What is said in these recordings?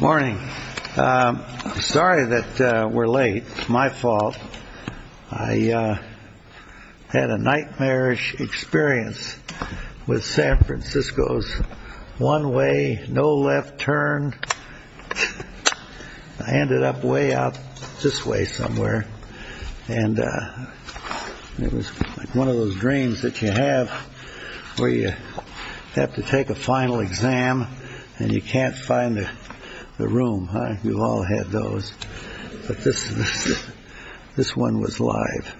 Morning. Sorry that we're late. It's my fault. I had a nightmarish experience with San Francisco's one way, no left turn. I ended up way out this way somewhere and it was one of those dreams that you have where you have to take a final exam and you can't find the room. You've all had those, but this one was live.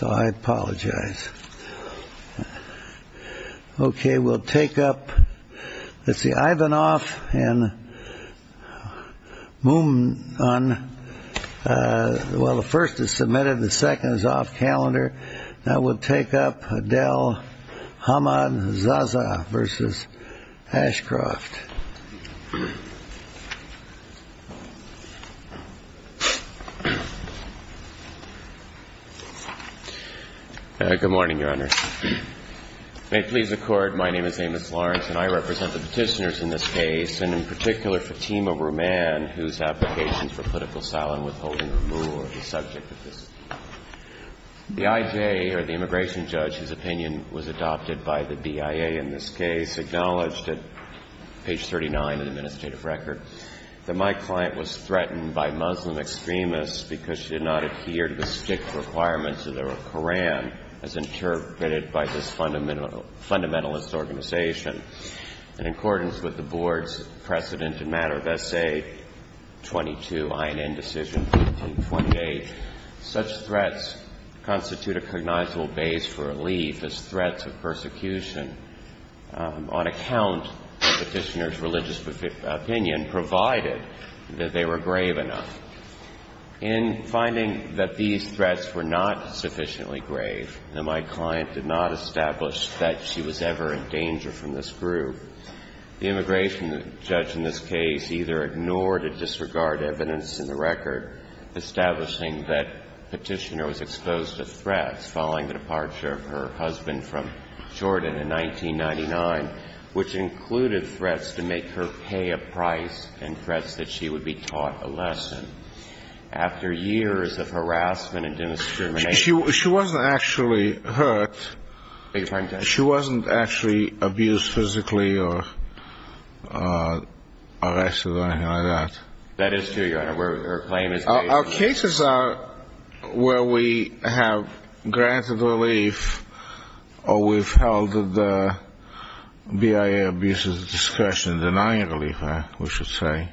So I apologize. Okay, we'll take up, let's see, Ivanov and Moumnon, well the first is submitted, the second is off calendar. Now we'll take up Adel Ahmad Zaza v. Ashcroft. Good morning, Your Honor. May it please the Court, my name is Amos Lawrence and I represent the petitioners in this case, and in particular Fatima Rouman, whose applications for political asylum withholding removal are the subject of this case. The IJ, or the immigration judge, whose opinion was adopted by the BIA in this case, acknowledged at page 39 of the administrative record that my client was threatened by Muslim extremists because she did not adhere to the strict requirements of the Quran as interpreted by this fundamentalist organization. In accordance with the Board's precedent in matter of essay 22, I and N decision 1528, such threats constitute a cognizable base for relief as threats of persecution on account of the petitioner's religious opinion, provided that they were grave enough. In finding that these threats were not sufficiently grave, and my client did not establish that she was ever in danger from this group, the immigration judge in this case either ignored or disregarded evidence in the record, establishing that petitioner was exposed to threats following the departure of her husband from Jordan in 1999, which included threats to make her pay a price and threats that she would be taught a lesson. After years of harassment and discrimination. She wasn't actually hurt. She wasn't actually abused physically or arrested or anything like that. That is true, Your Honor. Our cases are where we have granted relief or we've held the BIA abusers' discretion in denying relief, we should say,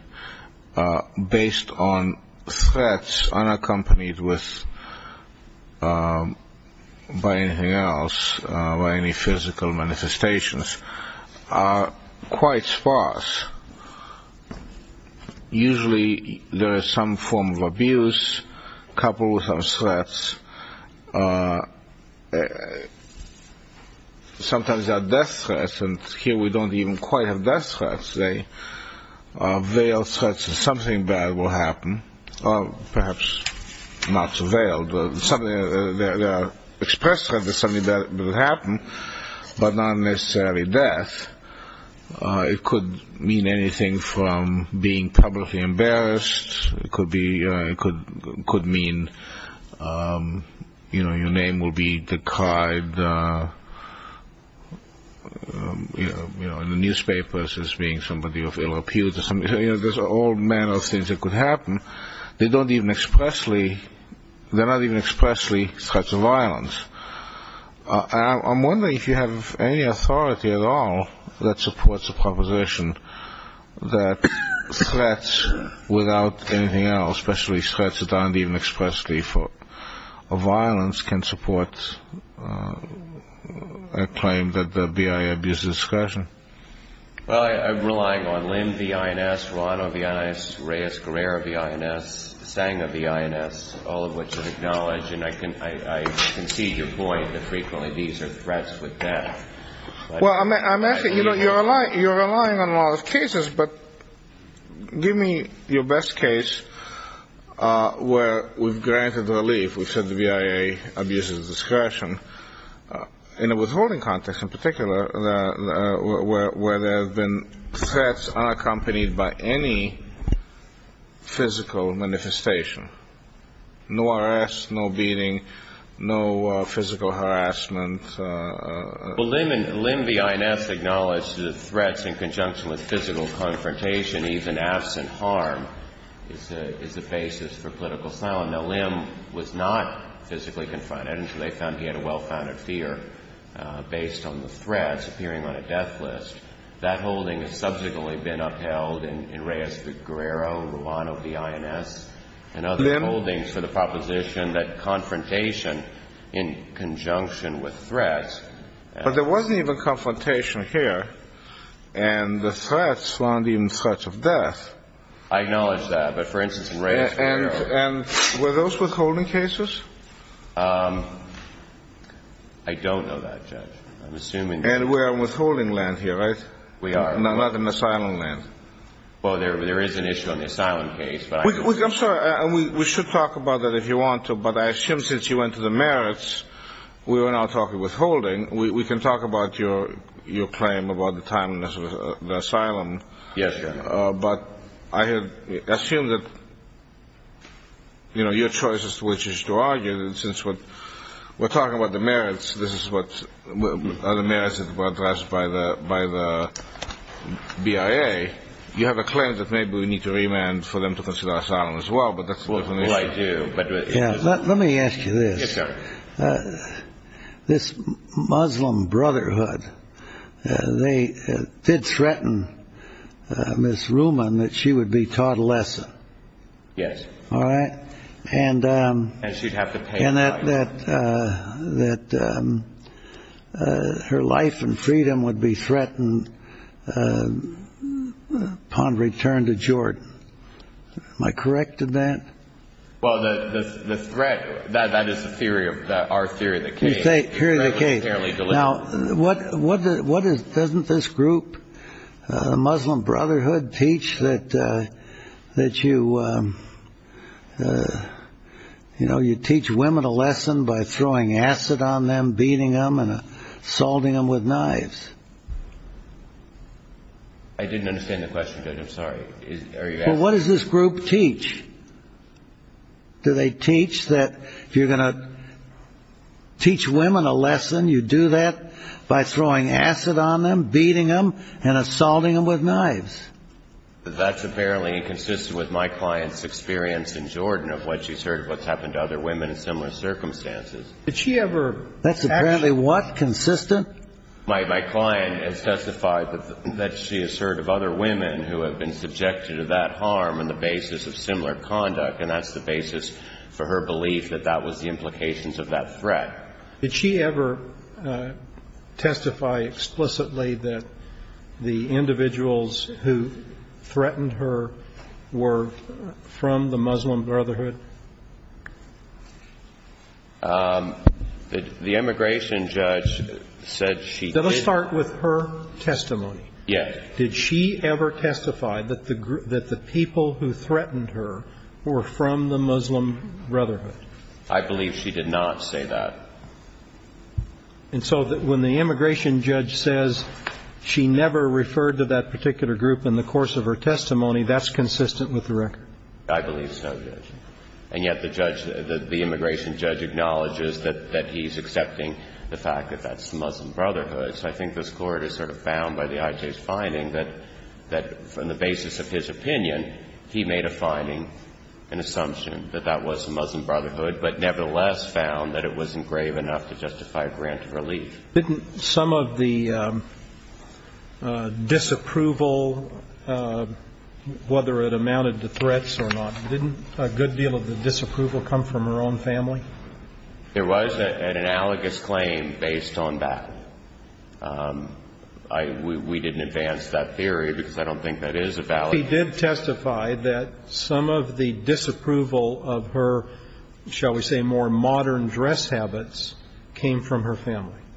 based on threats unaccompanied by anything else, by any physical manifestations, are quite sparse. Usually there is some form of abuse coupled with some threats. It could mean anything from being publicly embarrassed. It could mean your name will be decried in the newspapers as being somebody of ill-appearance. There's all manner of things that could happen. They're not even expressly threats of violence. I'm wondering if you have any authority at all that supports the proposition that threats without anything else, especially threats that aren't even expressly threats of violence, can support a claim that the BIA abuses discretion. Well, I'm relying on Lynn V. INS, Rano V. INS, Reyes-Guerrero V. INS, Senga V. INS, all of which I acknowledge. And I concede your point that frequently these are threats with death. Well, I'm asking, you know, you're relying on a lot of cases, but give me your best case where we've granted relief, we've said the BIA abuses discretion, in a withholding context in particular, where there have been threats unaccompanied by any physical manifestation, no arrest, no beating, no physical harassment. Well, Lynn V. INS acknowledged that threats in conjunction with physical confrontation, even absent harm, is the basis for political asylum. Now, Lynn was not physically confronted until they found he had a well-founded fear based on the threats appearing on a death list. That holding has subsequently been upheld in Reyes-Guerrero, Rano V. INS, and other holdings for the proposition that confrontation in conjunction with threats. But there wasn't even confrontation here, and the threats weren't even threats of death. I acknowledge that, but for instance, in Reyes-Guerrero. And were those withholding cases? I don't know that, Judge. And we're on withholding land here, right? We are. No, not on asylum land. Well, there is an issue on the asylum case. I'm sorry. We should talk about that if you want to, but I assume since you went to the merits, we are now talking withholding. We can talk about your claim about the time in the asylum. Yes, Your Honor. But I assume that your choice is to argue that since we're talking about the merits, this is what the merits are addressed by the BIA. You have a claim that maybe we need to remand for them to consider asylum as well, but that's a different issue. Well, I do. Let me ask you this. Yes, sir. This Muslim Brotherhood, they did threaten Miss Ruman that she would be taught a lesson. Yes. All right? And that her life and freedom would be threatened upon return to Jordan. Am I correct in that? Well, the threat, that is our theory of the case. Now, doesn't this group, the Muslim Brotherhood, teach that you teach women a lesson by throwing acid on them, beating them, and assaulting them with knives? I didn't understand the question, Judge. I'm sorry. Well, what does this group teach? Do they teach that if you're going to teach women a lesson, you do that by throwing acid on them, beating them, and assaulting them with knives? That's apparently inconsistent with my client's experience in Jordan of what she's heard of what's happened to other women in similar circumstances. Did she ever actually? That's apparently what? Consistent? My client has testified that she has heard of other women who have been subjected to that harm on the basis of similar conduct, and that's the basis for her belief that that was the implications of that threat. Did she ever testify explicitly that the individuals who threatened her were from the Muslim Brotherhood? The immigration judge said she did. Let's start with her testimony. Yes. Did she ever testify that the people who threatened her were from the Muslim Brotherhood? I believe she did not say that. And so when the immigration judge says she never referred to that particular group in the course of her testimony, that's consistent with the record? I believe so, Judge. And yet the judge, the immigration judge, acknowledges that he's accepting the fact that that's the Muslim Brotherhood. So I think this Court has sort of found by the IJ's finding that on the basis of his opinion, he made a finding, an assumption, that that was the Muslim Brotherhood, but nevertheless found that it wasn't grave enough to justify a grant of relief. Didn't some of the disapproval, whether it amounted to threats or not, didn't a good deal of the disapproval come from her own family? There was an analogous claim based on that. We didn't advance that theory because I don't think that is a valid claim.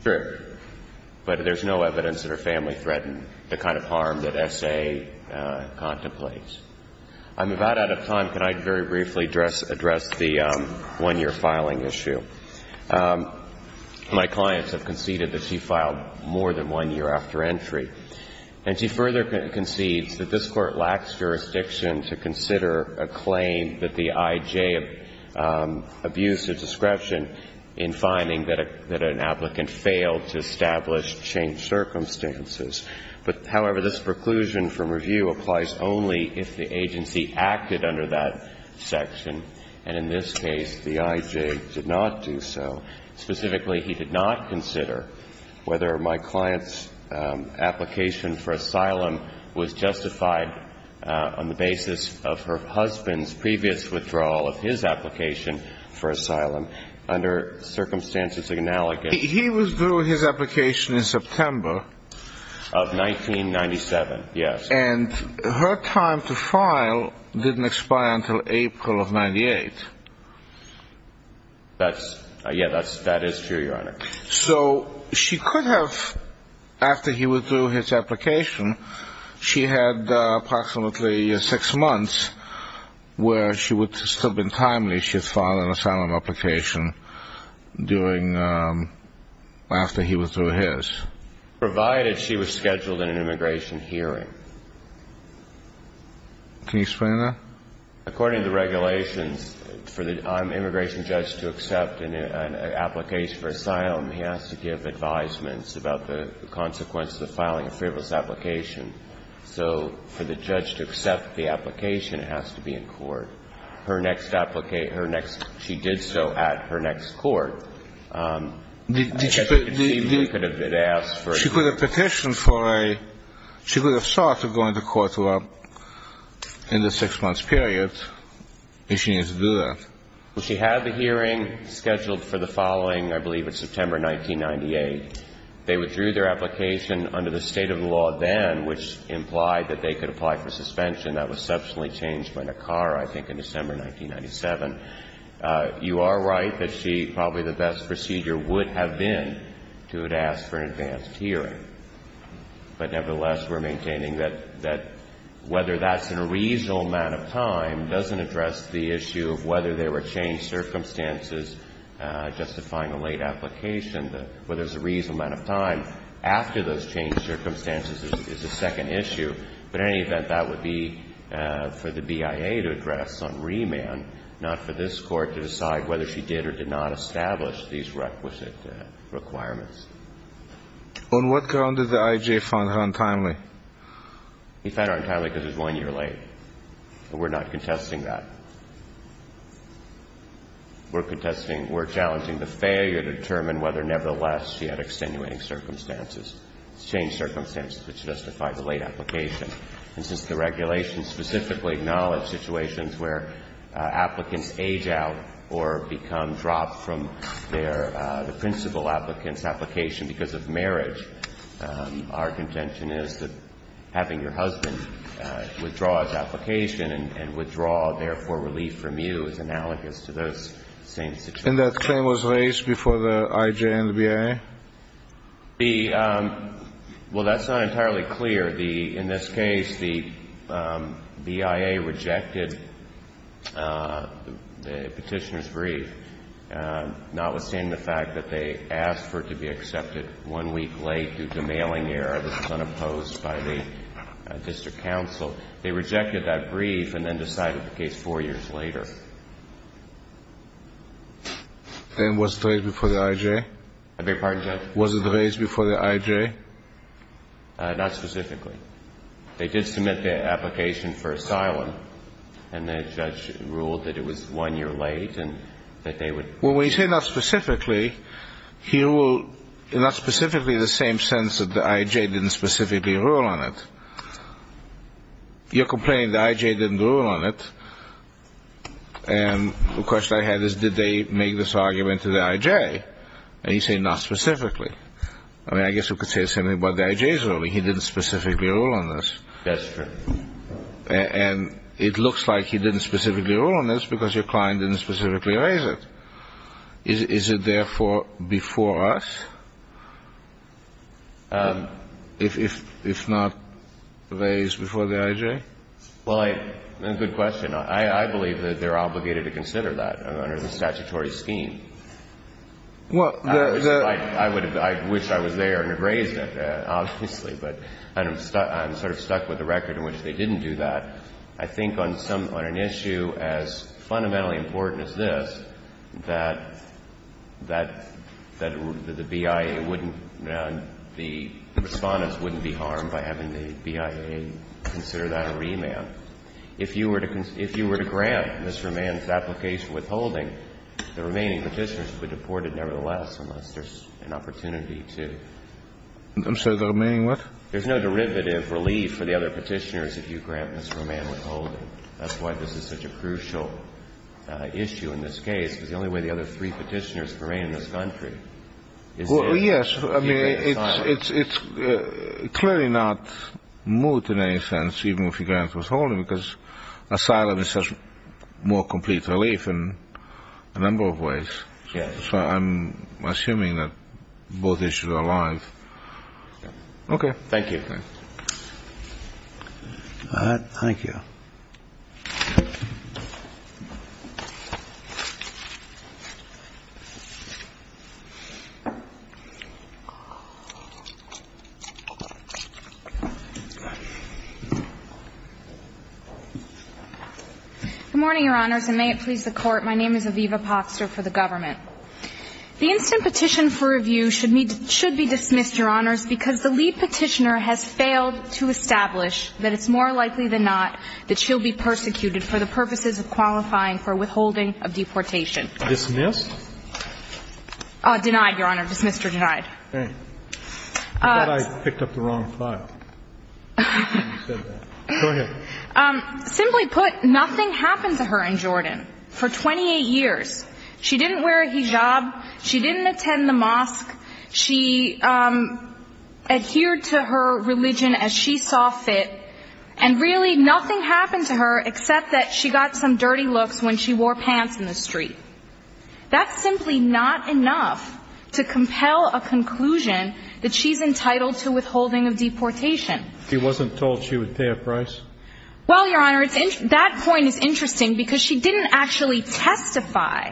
Sure. But there's no evidence that her family threatened the kind of harm that S.A. contemplates. I'm about out of time. Can I very briefly address the one-year filing issue? My clients have conceded that she filed more than one year after entry. And she further concedes that this Court lacks jurisdiction to consider a claim that the IJ abused a description in finding that an applicant failed to establish changed circumstances. But, however, this preclusion from review applies only if the agency acted under that section. And in this case, the IJ did not do so. Specifically, he did not consider whether my client's application for asylum was justified on the basis of her husband's previous withdrawal of his application for asylum. Under circumstances analogous. He withdrew his application in September. Of 1997, yes. And her time to file didn't expire until April of 98. Yeah, that is true, Your Honor. So she could have, after he withdrew his application, she had approximately six months where she would have still been timely if she had filed an asylum application after he withdrew his. Provided she was scheduled in an immigration hearing. Can you explain that? According to the regulations, for the immigration judge to accept an application for asylum, he has to give advisements about the consequences of filing a frivolous application. So for the judge to accept the application, it has to be in court. Her next, she did so at her next court. She could have petitioned for a, she could have sought to go into court in the six-month period if she needed to do that. She had the hearing scheduled for the following, I believe it's September 1998. They withdrew their application under the state of the law then, which implied that they could apply for suspension. That was substantially changed by NACARA, I think, in December 1997. You are right that she, probably the best procedure would have been to have asked for an advanced hearing. But nevertheless, we're maintaining that whether that's in a reasonable amount of time doesn't address the issue of whether there were changed circumstances justifying a late application. Whether there's a reasonable amount of time after those changed circumstances is the second issue. But in any event, that would be for the BIA to address on remand, not for this Court to decide whether she did or did not establish these requisite requirements. On what ground did the IJ find her untimely? He found her untimely because it was one year late. We're not contesting that. We're contesting, we're challenging the failure to determine whether, nevertheless, she had extenuating circumstances, changed circumstances which justify the late application. And since the regulations specifically acknowledge situations where applicants age out or become dropped from their, the principal applicant's application because of marriage, our contention is that having your husband withdraw his application and withdraw, therefore, relief from you is analogous to those same situations. And that claim was raised before the IJ and the BIA? The – well, that's not entirely clear. In this case, the BIA rejected the Petitioner's brief, notwithstanding the fact that they asked for it to be accepted one week late due to mailing error. This is unopposed by the district counsel. They rejected that brief and then decided the case four years later. Then was it raised before the IJ? I beg your pardon, Judge? Was it raised before the IJ? Not specifically. They did submit the application for asylum, and the judge ruled that it was one year late and that they would – Well, when you say not specifically, he will – not specifically in the same sense that the IJ didn't specifically rule on it. You're complaining the IJ didn't rule on it, and the question I have is did they make this argument to the IJ? And you say not specifically. I mean, I guess you could say the same thing about the IJ's ruling. He didn't specifically rule on this. That's true. And it looks like he didn't specifically rule on this because your client didn't specifically raise it. Is it therefore before us if not raised before the IJ? Well, good question. I believe that they're obligated to consider that under the statutory scheme. I wish I was there and had raised it, obviously, but I'm sort of stuck with the record in which they didn't do that. I think on some – on an issue as fundamentally important as this, that the BIA wouldn't – the Respondents wouldn't be harmed by having the BIA consider that a remand. If you were to grant Mr. Mann's application withholding, the remaining Petitioners would be deported nevertheless unless there's an opportunity to. I'm sorry. The remaining what? There's no derivative relief for the other Petitioners if you grant Mr. Mann withholding. That's why this is such a crucial issue in this case because the only way the other three Petitioners remain in this country is this. Well, yes. I mean, it's clearly not moot in any sense, even if you grant withholding, because asylum is such more complete relief in a number of ways. Yes. So I'm assuming that both issues are alive. Okay. Thank you. All right. Thank you. Good morning, Your Honors, and may it please the Court. My name is Aviva Poxter for the Government. The instant petition for review should be dismissed, Your Honors, because the lead Petitioner has failed to establish that it's more likely than not that she'll be persecuted for the purposes of qualifying for withholding of deportation. Dismissed? Denied, Your Honor. Dismissed or denied. I thought I picked up the wrong file when you said that. Go ahead. Simply put, nothing happened to her in Jordan for 28 years. She didn't wear a hijab. She didn't attend the mosque. She adhered to her religion as she saw fit, and really nothing happened to her except that she got some dirty looks when she wore pants in the street. That's simply not enough to compel a conclusion that she's entitled to withholding of deportation. She wasn't told she would pay a price? Well, Your Honor, that point is interesting because she didn't actually testify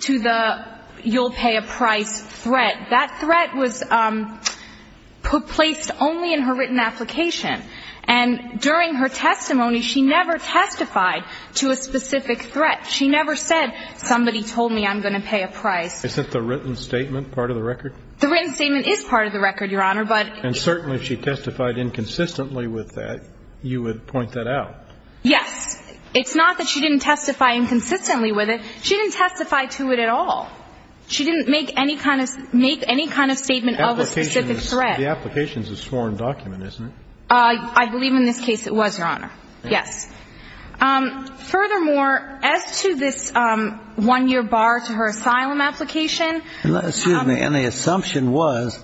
to the you'll pay a price threat. That threat was placed only in her written application. And during her testimony, she never testified to a specific threat. She never said, somebody told me I'm going to pay a price. Is that the written statement part of the record? The written statement is part of the record, Your Honor, but And certainly she testified inconsistently with that. You would point that out. Yes. It's not that she didn't testify inconsistently with it. She didn't testify to it at all. She didn't make any kind of statement of a specific threat. The application is a sworn document, isn't it? I believe in this case it was, Your Honor. Yes. Furthermore, as to this one-year bar to her asylum application And the assumption was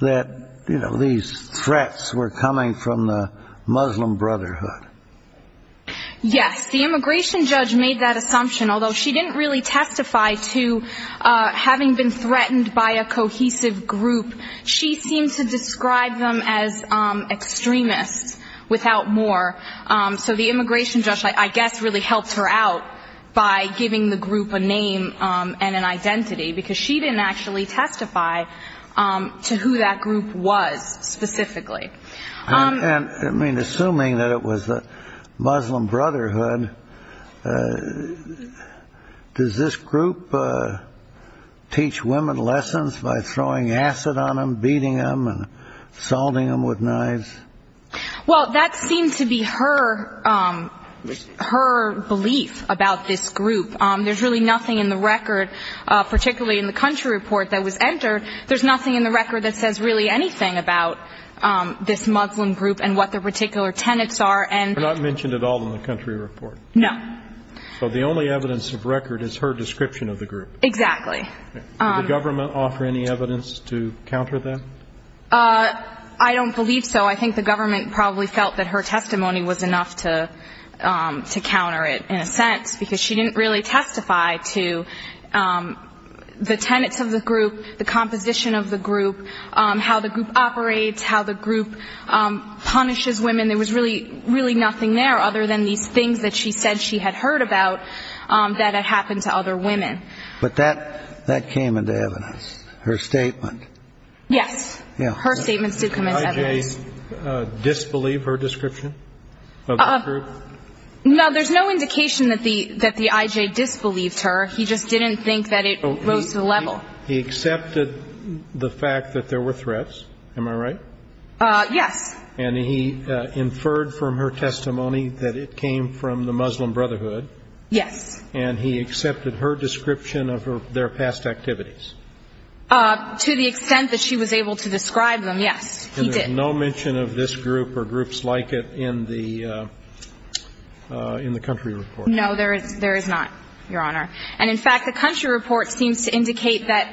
that these threats were coming from the Muslim Brotherhood. Yes, the immigration judge made that assumption, although she didn't really testify to having been threatened by a cohesive group. She seemed to describe them as extremists without more. So the immigration judge, I guess, really helped her out by giving the group a name and an identity because she didn't actually testify to who that group was specifically. And, I mean, assuming that it was the Muslim Brotherhood, does this group teach women lessons by throwing acid on them, beating them, and salting them with knives? Well, that seemed to be her belief about this group. There's really nothing in the record, particularly in the country report that was entered, there's nothing in the record that says really anything about this Muslim group and what their particular tenets are. They're not mentioned at all in the country report. No. So the only evidence of record is her description of the group. Exactly. Did the government offer any evidence to counter that? I don't believe so. I think the government probably felt that her testimony was enough to counter it, in a sense, because she didn't really testify to the tenets of the group, the composition of the group, how the group operates, how the group punishes women. There was really nothing there other than these things that she said she had heard about that had happened to other women. But that came into evidence, her statement. Yes. Yeah. Her statements did come into evidence. Can I just disbelieve her description of the group? No, there's no indication that the I.J. disbelieved her. He just didn't think that it rose to the level. He accepted the fact that there were threats, am I right? Yes. And he inferred from her testimony that it came from the Muslim Brotherhood. Yes. And he accepted her description of their past activities. There is no mention of this group or groups like it in the country report. No, there is not, Your Honor. And, in fact, the country report seems to indicate that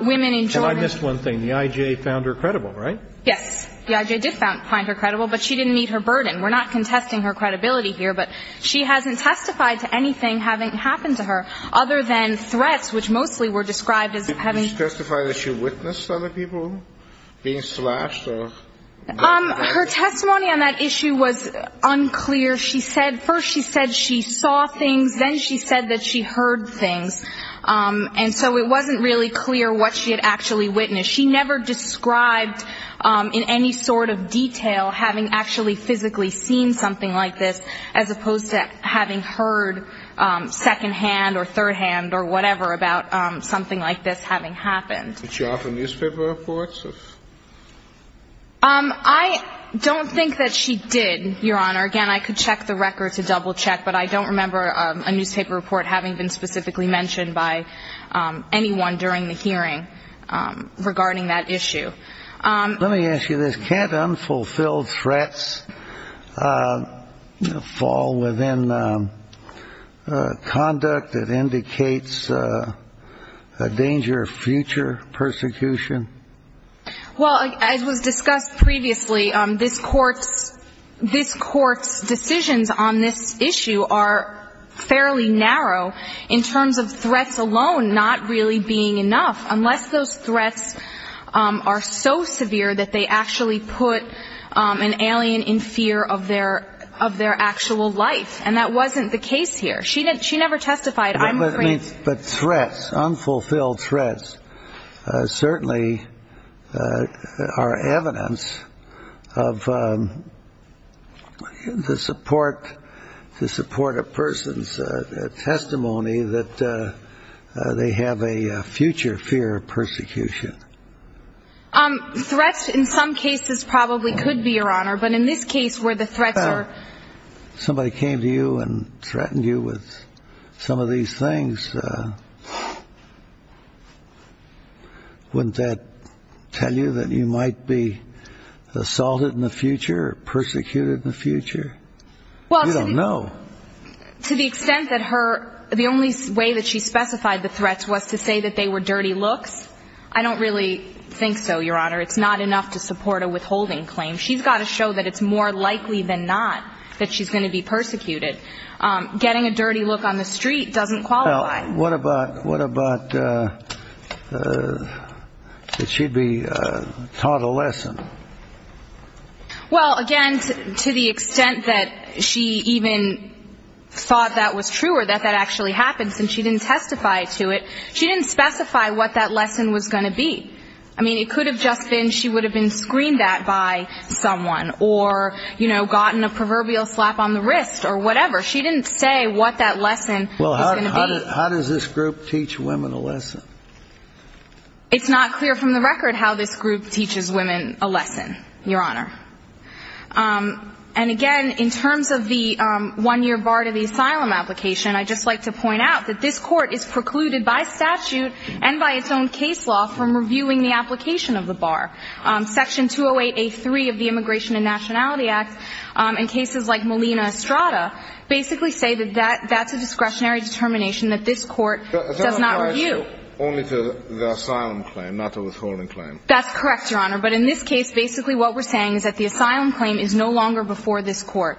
women in Germany ---- And I missed one thing. The I.J. found her credible, right? Yes. The I.J. did find her credible, but she didn't meet her burden. We're not contesting her credibility here, but she hasn't testified to anything having happened to her other than threats, which mostly were described as having ---- Did she testify that she witnessed other people being slashed or ---- Her testimony on that issue was unclear. First she said she saw things. Then she said that she heard things. And so it wasn't really clear what she had actually witnessed. She never described in any sort of detail having actually physically seen something like this, as opposed to having heard second-hand or third-hand or whatever about something like this having happened. Did she offer newspaper reports of ---- I don't think that she did, Your Honor. Again, I could check the record to double-check, but I don't remember a newspaper report having been specifically mentioned by anyone during the hearing regarding that issue. Let me ask you this. Can't unfulfilled threats fall within conduct that indicates a danger of future persecution? Well, as was discussed previously, this Court's decisions on this issue are fairly narrow in terms of threats alone not really being enough, unless those threats are so severe that they actually put an alien in fear of their actual life. And that wasn't the case here. She never testified. But threats, unfulfilled threats, certainly are evidence of the support of a person's testimony that they have a future fear of persecution. Threats in some cases probably could be, Your Honor, but in this case where the threats are ---- If somebody came to you and threatened you with some of these things, wouldn't that tell you that you might be assaulted in the future or persecuted in the future? You don't know. To the extent that her ---- the only way that she specified the threats was to say that they were dirty looks, I don't really think so, Your Honor. It's not enough to support a withholding claim. She's got to show that it's more likely than not that she's going to be persecuted. Getting a dirty look on the street doesn't qualify. Well, what about that she'd be taught a lesson? Well, again, to the extent that she even thought that was true or that that actually happens and she didn't testify to it, she didn't specify what that lesson was going to be. I mean, it could have just been she would have been screened that by someone or, you know, gotten a proverbial slap on the wrist or whatever. She didn't say what that lesson was going to be. Well, how does this group teach women a lesson? It's not clear from the record how this group teaches women a lesson, Your Honor. And, again, in terms of the one-year bar to the asylum application, I'd just like to point out that this Court is precluded by statute and by its own case law from reviewing the application of the bar. Section 208A3 of the Immigration and Nationality Act and cases like Molina Estrada basically say that that's a discretionary determination that this Court does not review. But that applies only to the asylum claim, not the withholding claim. That's correct, Your Honor. But in this case, basically what we're saying is that the asylum claim is no longer before this Court.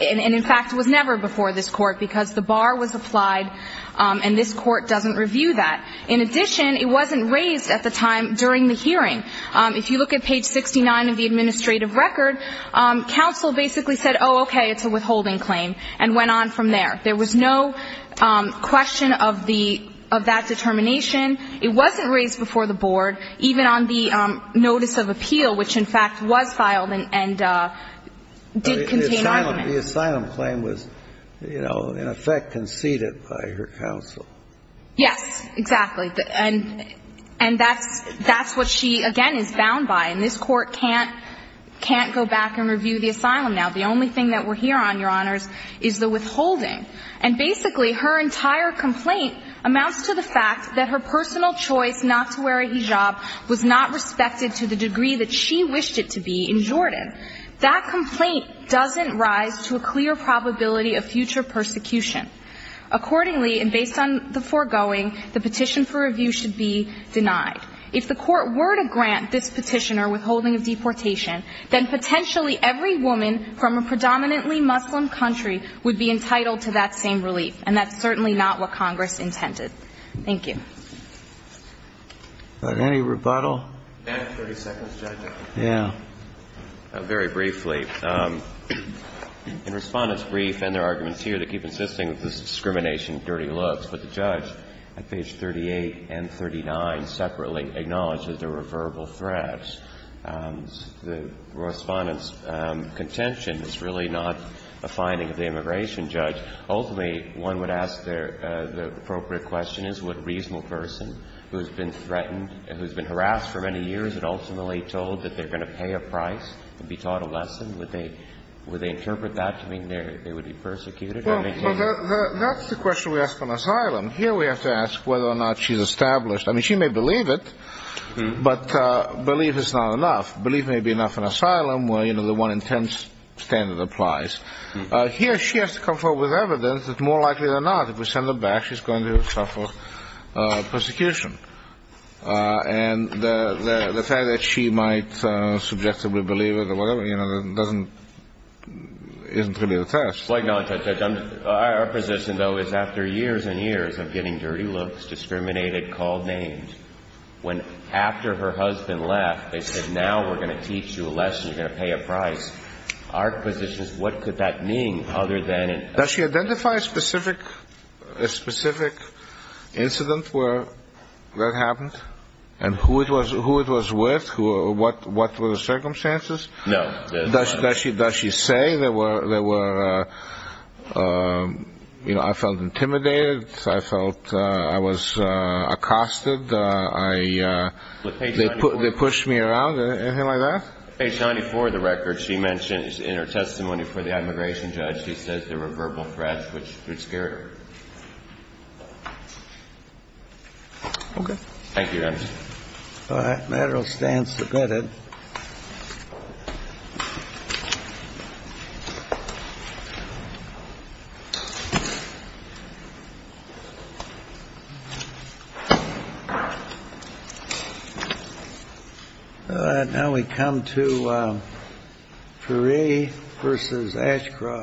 And, in fact, it was never before this Court because the bar was applied and this Court doesn't review that. In addition, it wasn't raised at the time during the hearing. If you look at page 69 of the administrative record, counsel basically said, oh, okay, it's a withholding claim, and went on from there. There was no question of that determination. It wasn't raised before the board, even on the notice of appeal, which, in fact, was filed and did contain argument. The asylum claim was, you know, in effect conceded by her counsel. Yes, exactly. And that's what she, again, is bound by. And this Court can't go back and review the asylum now. The only thing that we're here on, Your Honors, is the withholding. And basically, her entire complaint amounts to the fact that her personal choice not to wear a hijab was not respected to the degree that she wished it to be in Jordan. That complaint doesn't rise to a clear probability of future persecution. Accordingly, and based on the foregoing, the petition for review should be denied. If the Court were to grant this petitioner withholding of deportation, then potentially every woman from a predominantly Muslim country would be entitled to that same relief. And that's certainly not what Congress intended. Thank you. But any rebuttal? May I have 30 seconds, Judge? Yeah. Very briefly. In Respondent's brief and their arguments here, they keep insisting that this is discrimination, dirty looks. But the judge at page 38 and 39 separately acknowledges there were verbal threats. The Respondent's contention is really not a finding of the immigration judge. Ultimately, one would ask the appropriate question is would a reasonable person who has been threatened, who has been harassed for many years and ultimately told that they're going to pay a price and be taught a lesson, would they interpret that to mean they would be persecuted? Well, that's the question we ask on asylum. Here we have to ask whether or not she's established. I mean, she may believe it, but belief is not enough. Belief may be enough in asylum where, you know, the 1 in 10 standard applies. Here she has to come forward with evidence that more likely than not, if we send her back, she's going to suffer persecution. And the fact that she might subjectively believe it or whatever, you know, isn't really the test. Our position, though, is after years and years of getting dirty looks, discriminated, called names, when after her husband left, they said, now we're going to teach you a lesson, you're going to pay a price. Our position is what could that mean other than – Does she identify a specific incident where that happened and who it was with, what were the circumstances? No. Does she say they were – you know, I felt intimidated, I felt I was accosted, they pushed me around, anything like that? Page 94 of the record, she mentions in her testimony for the immigration judge, she says there were verbal threats which scared her. Thank you, Your Honor. All right, material stand submitted. All right, now we come to Pari versus Ashcroft.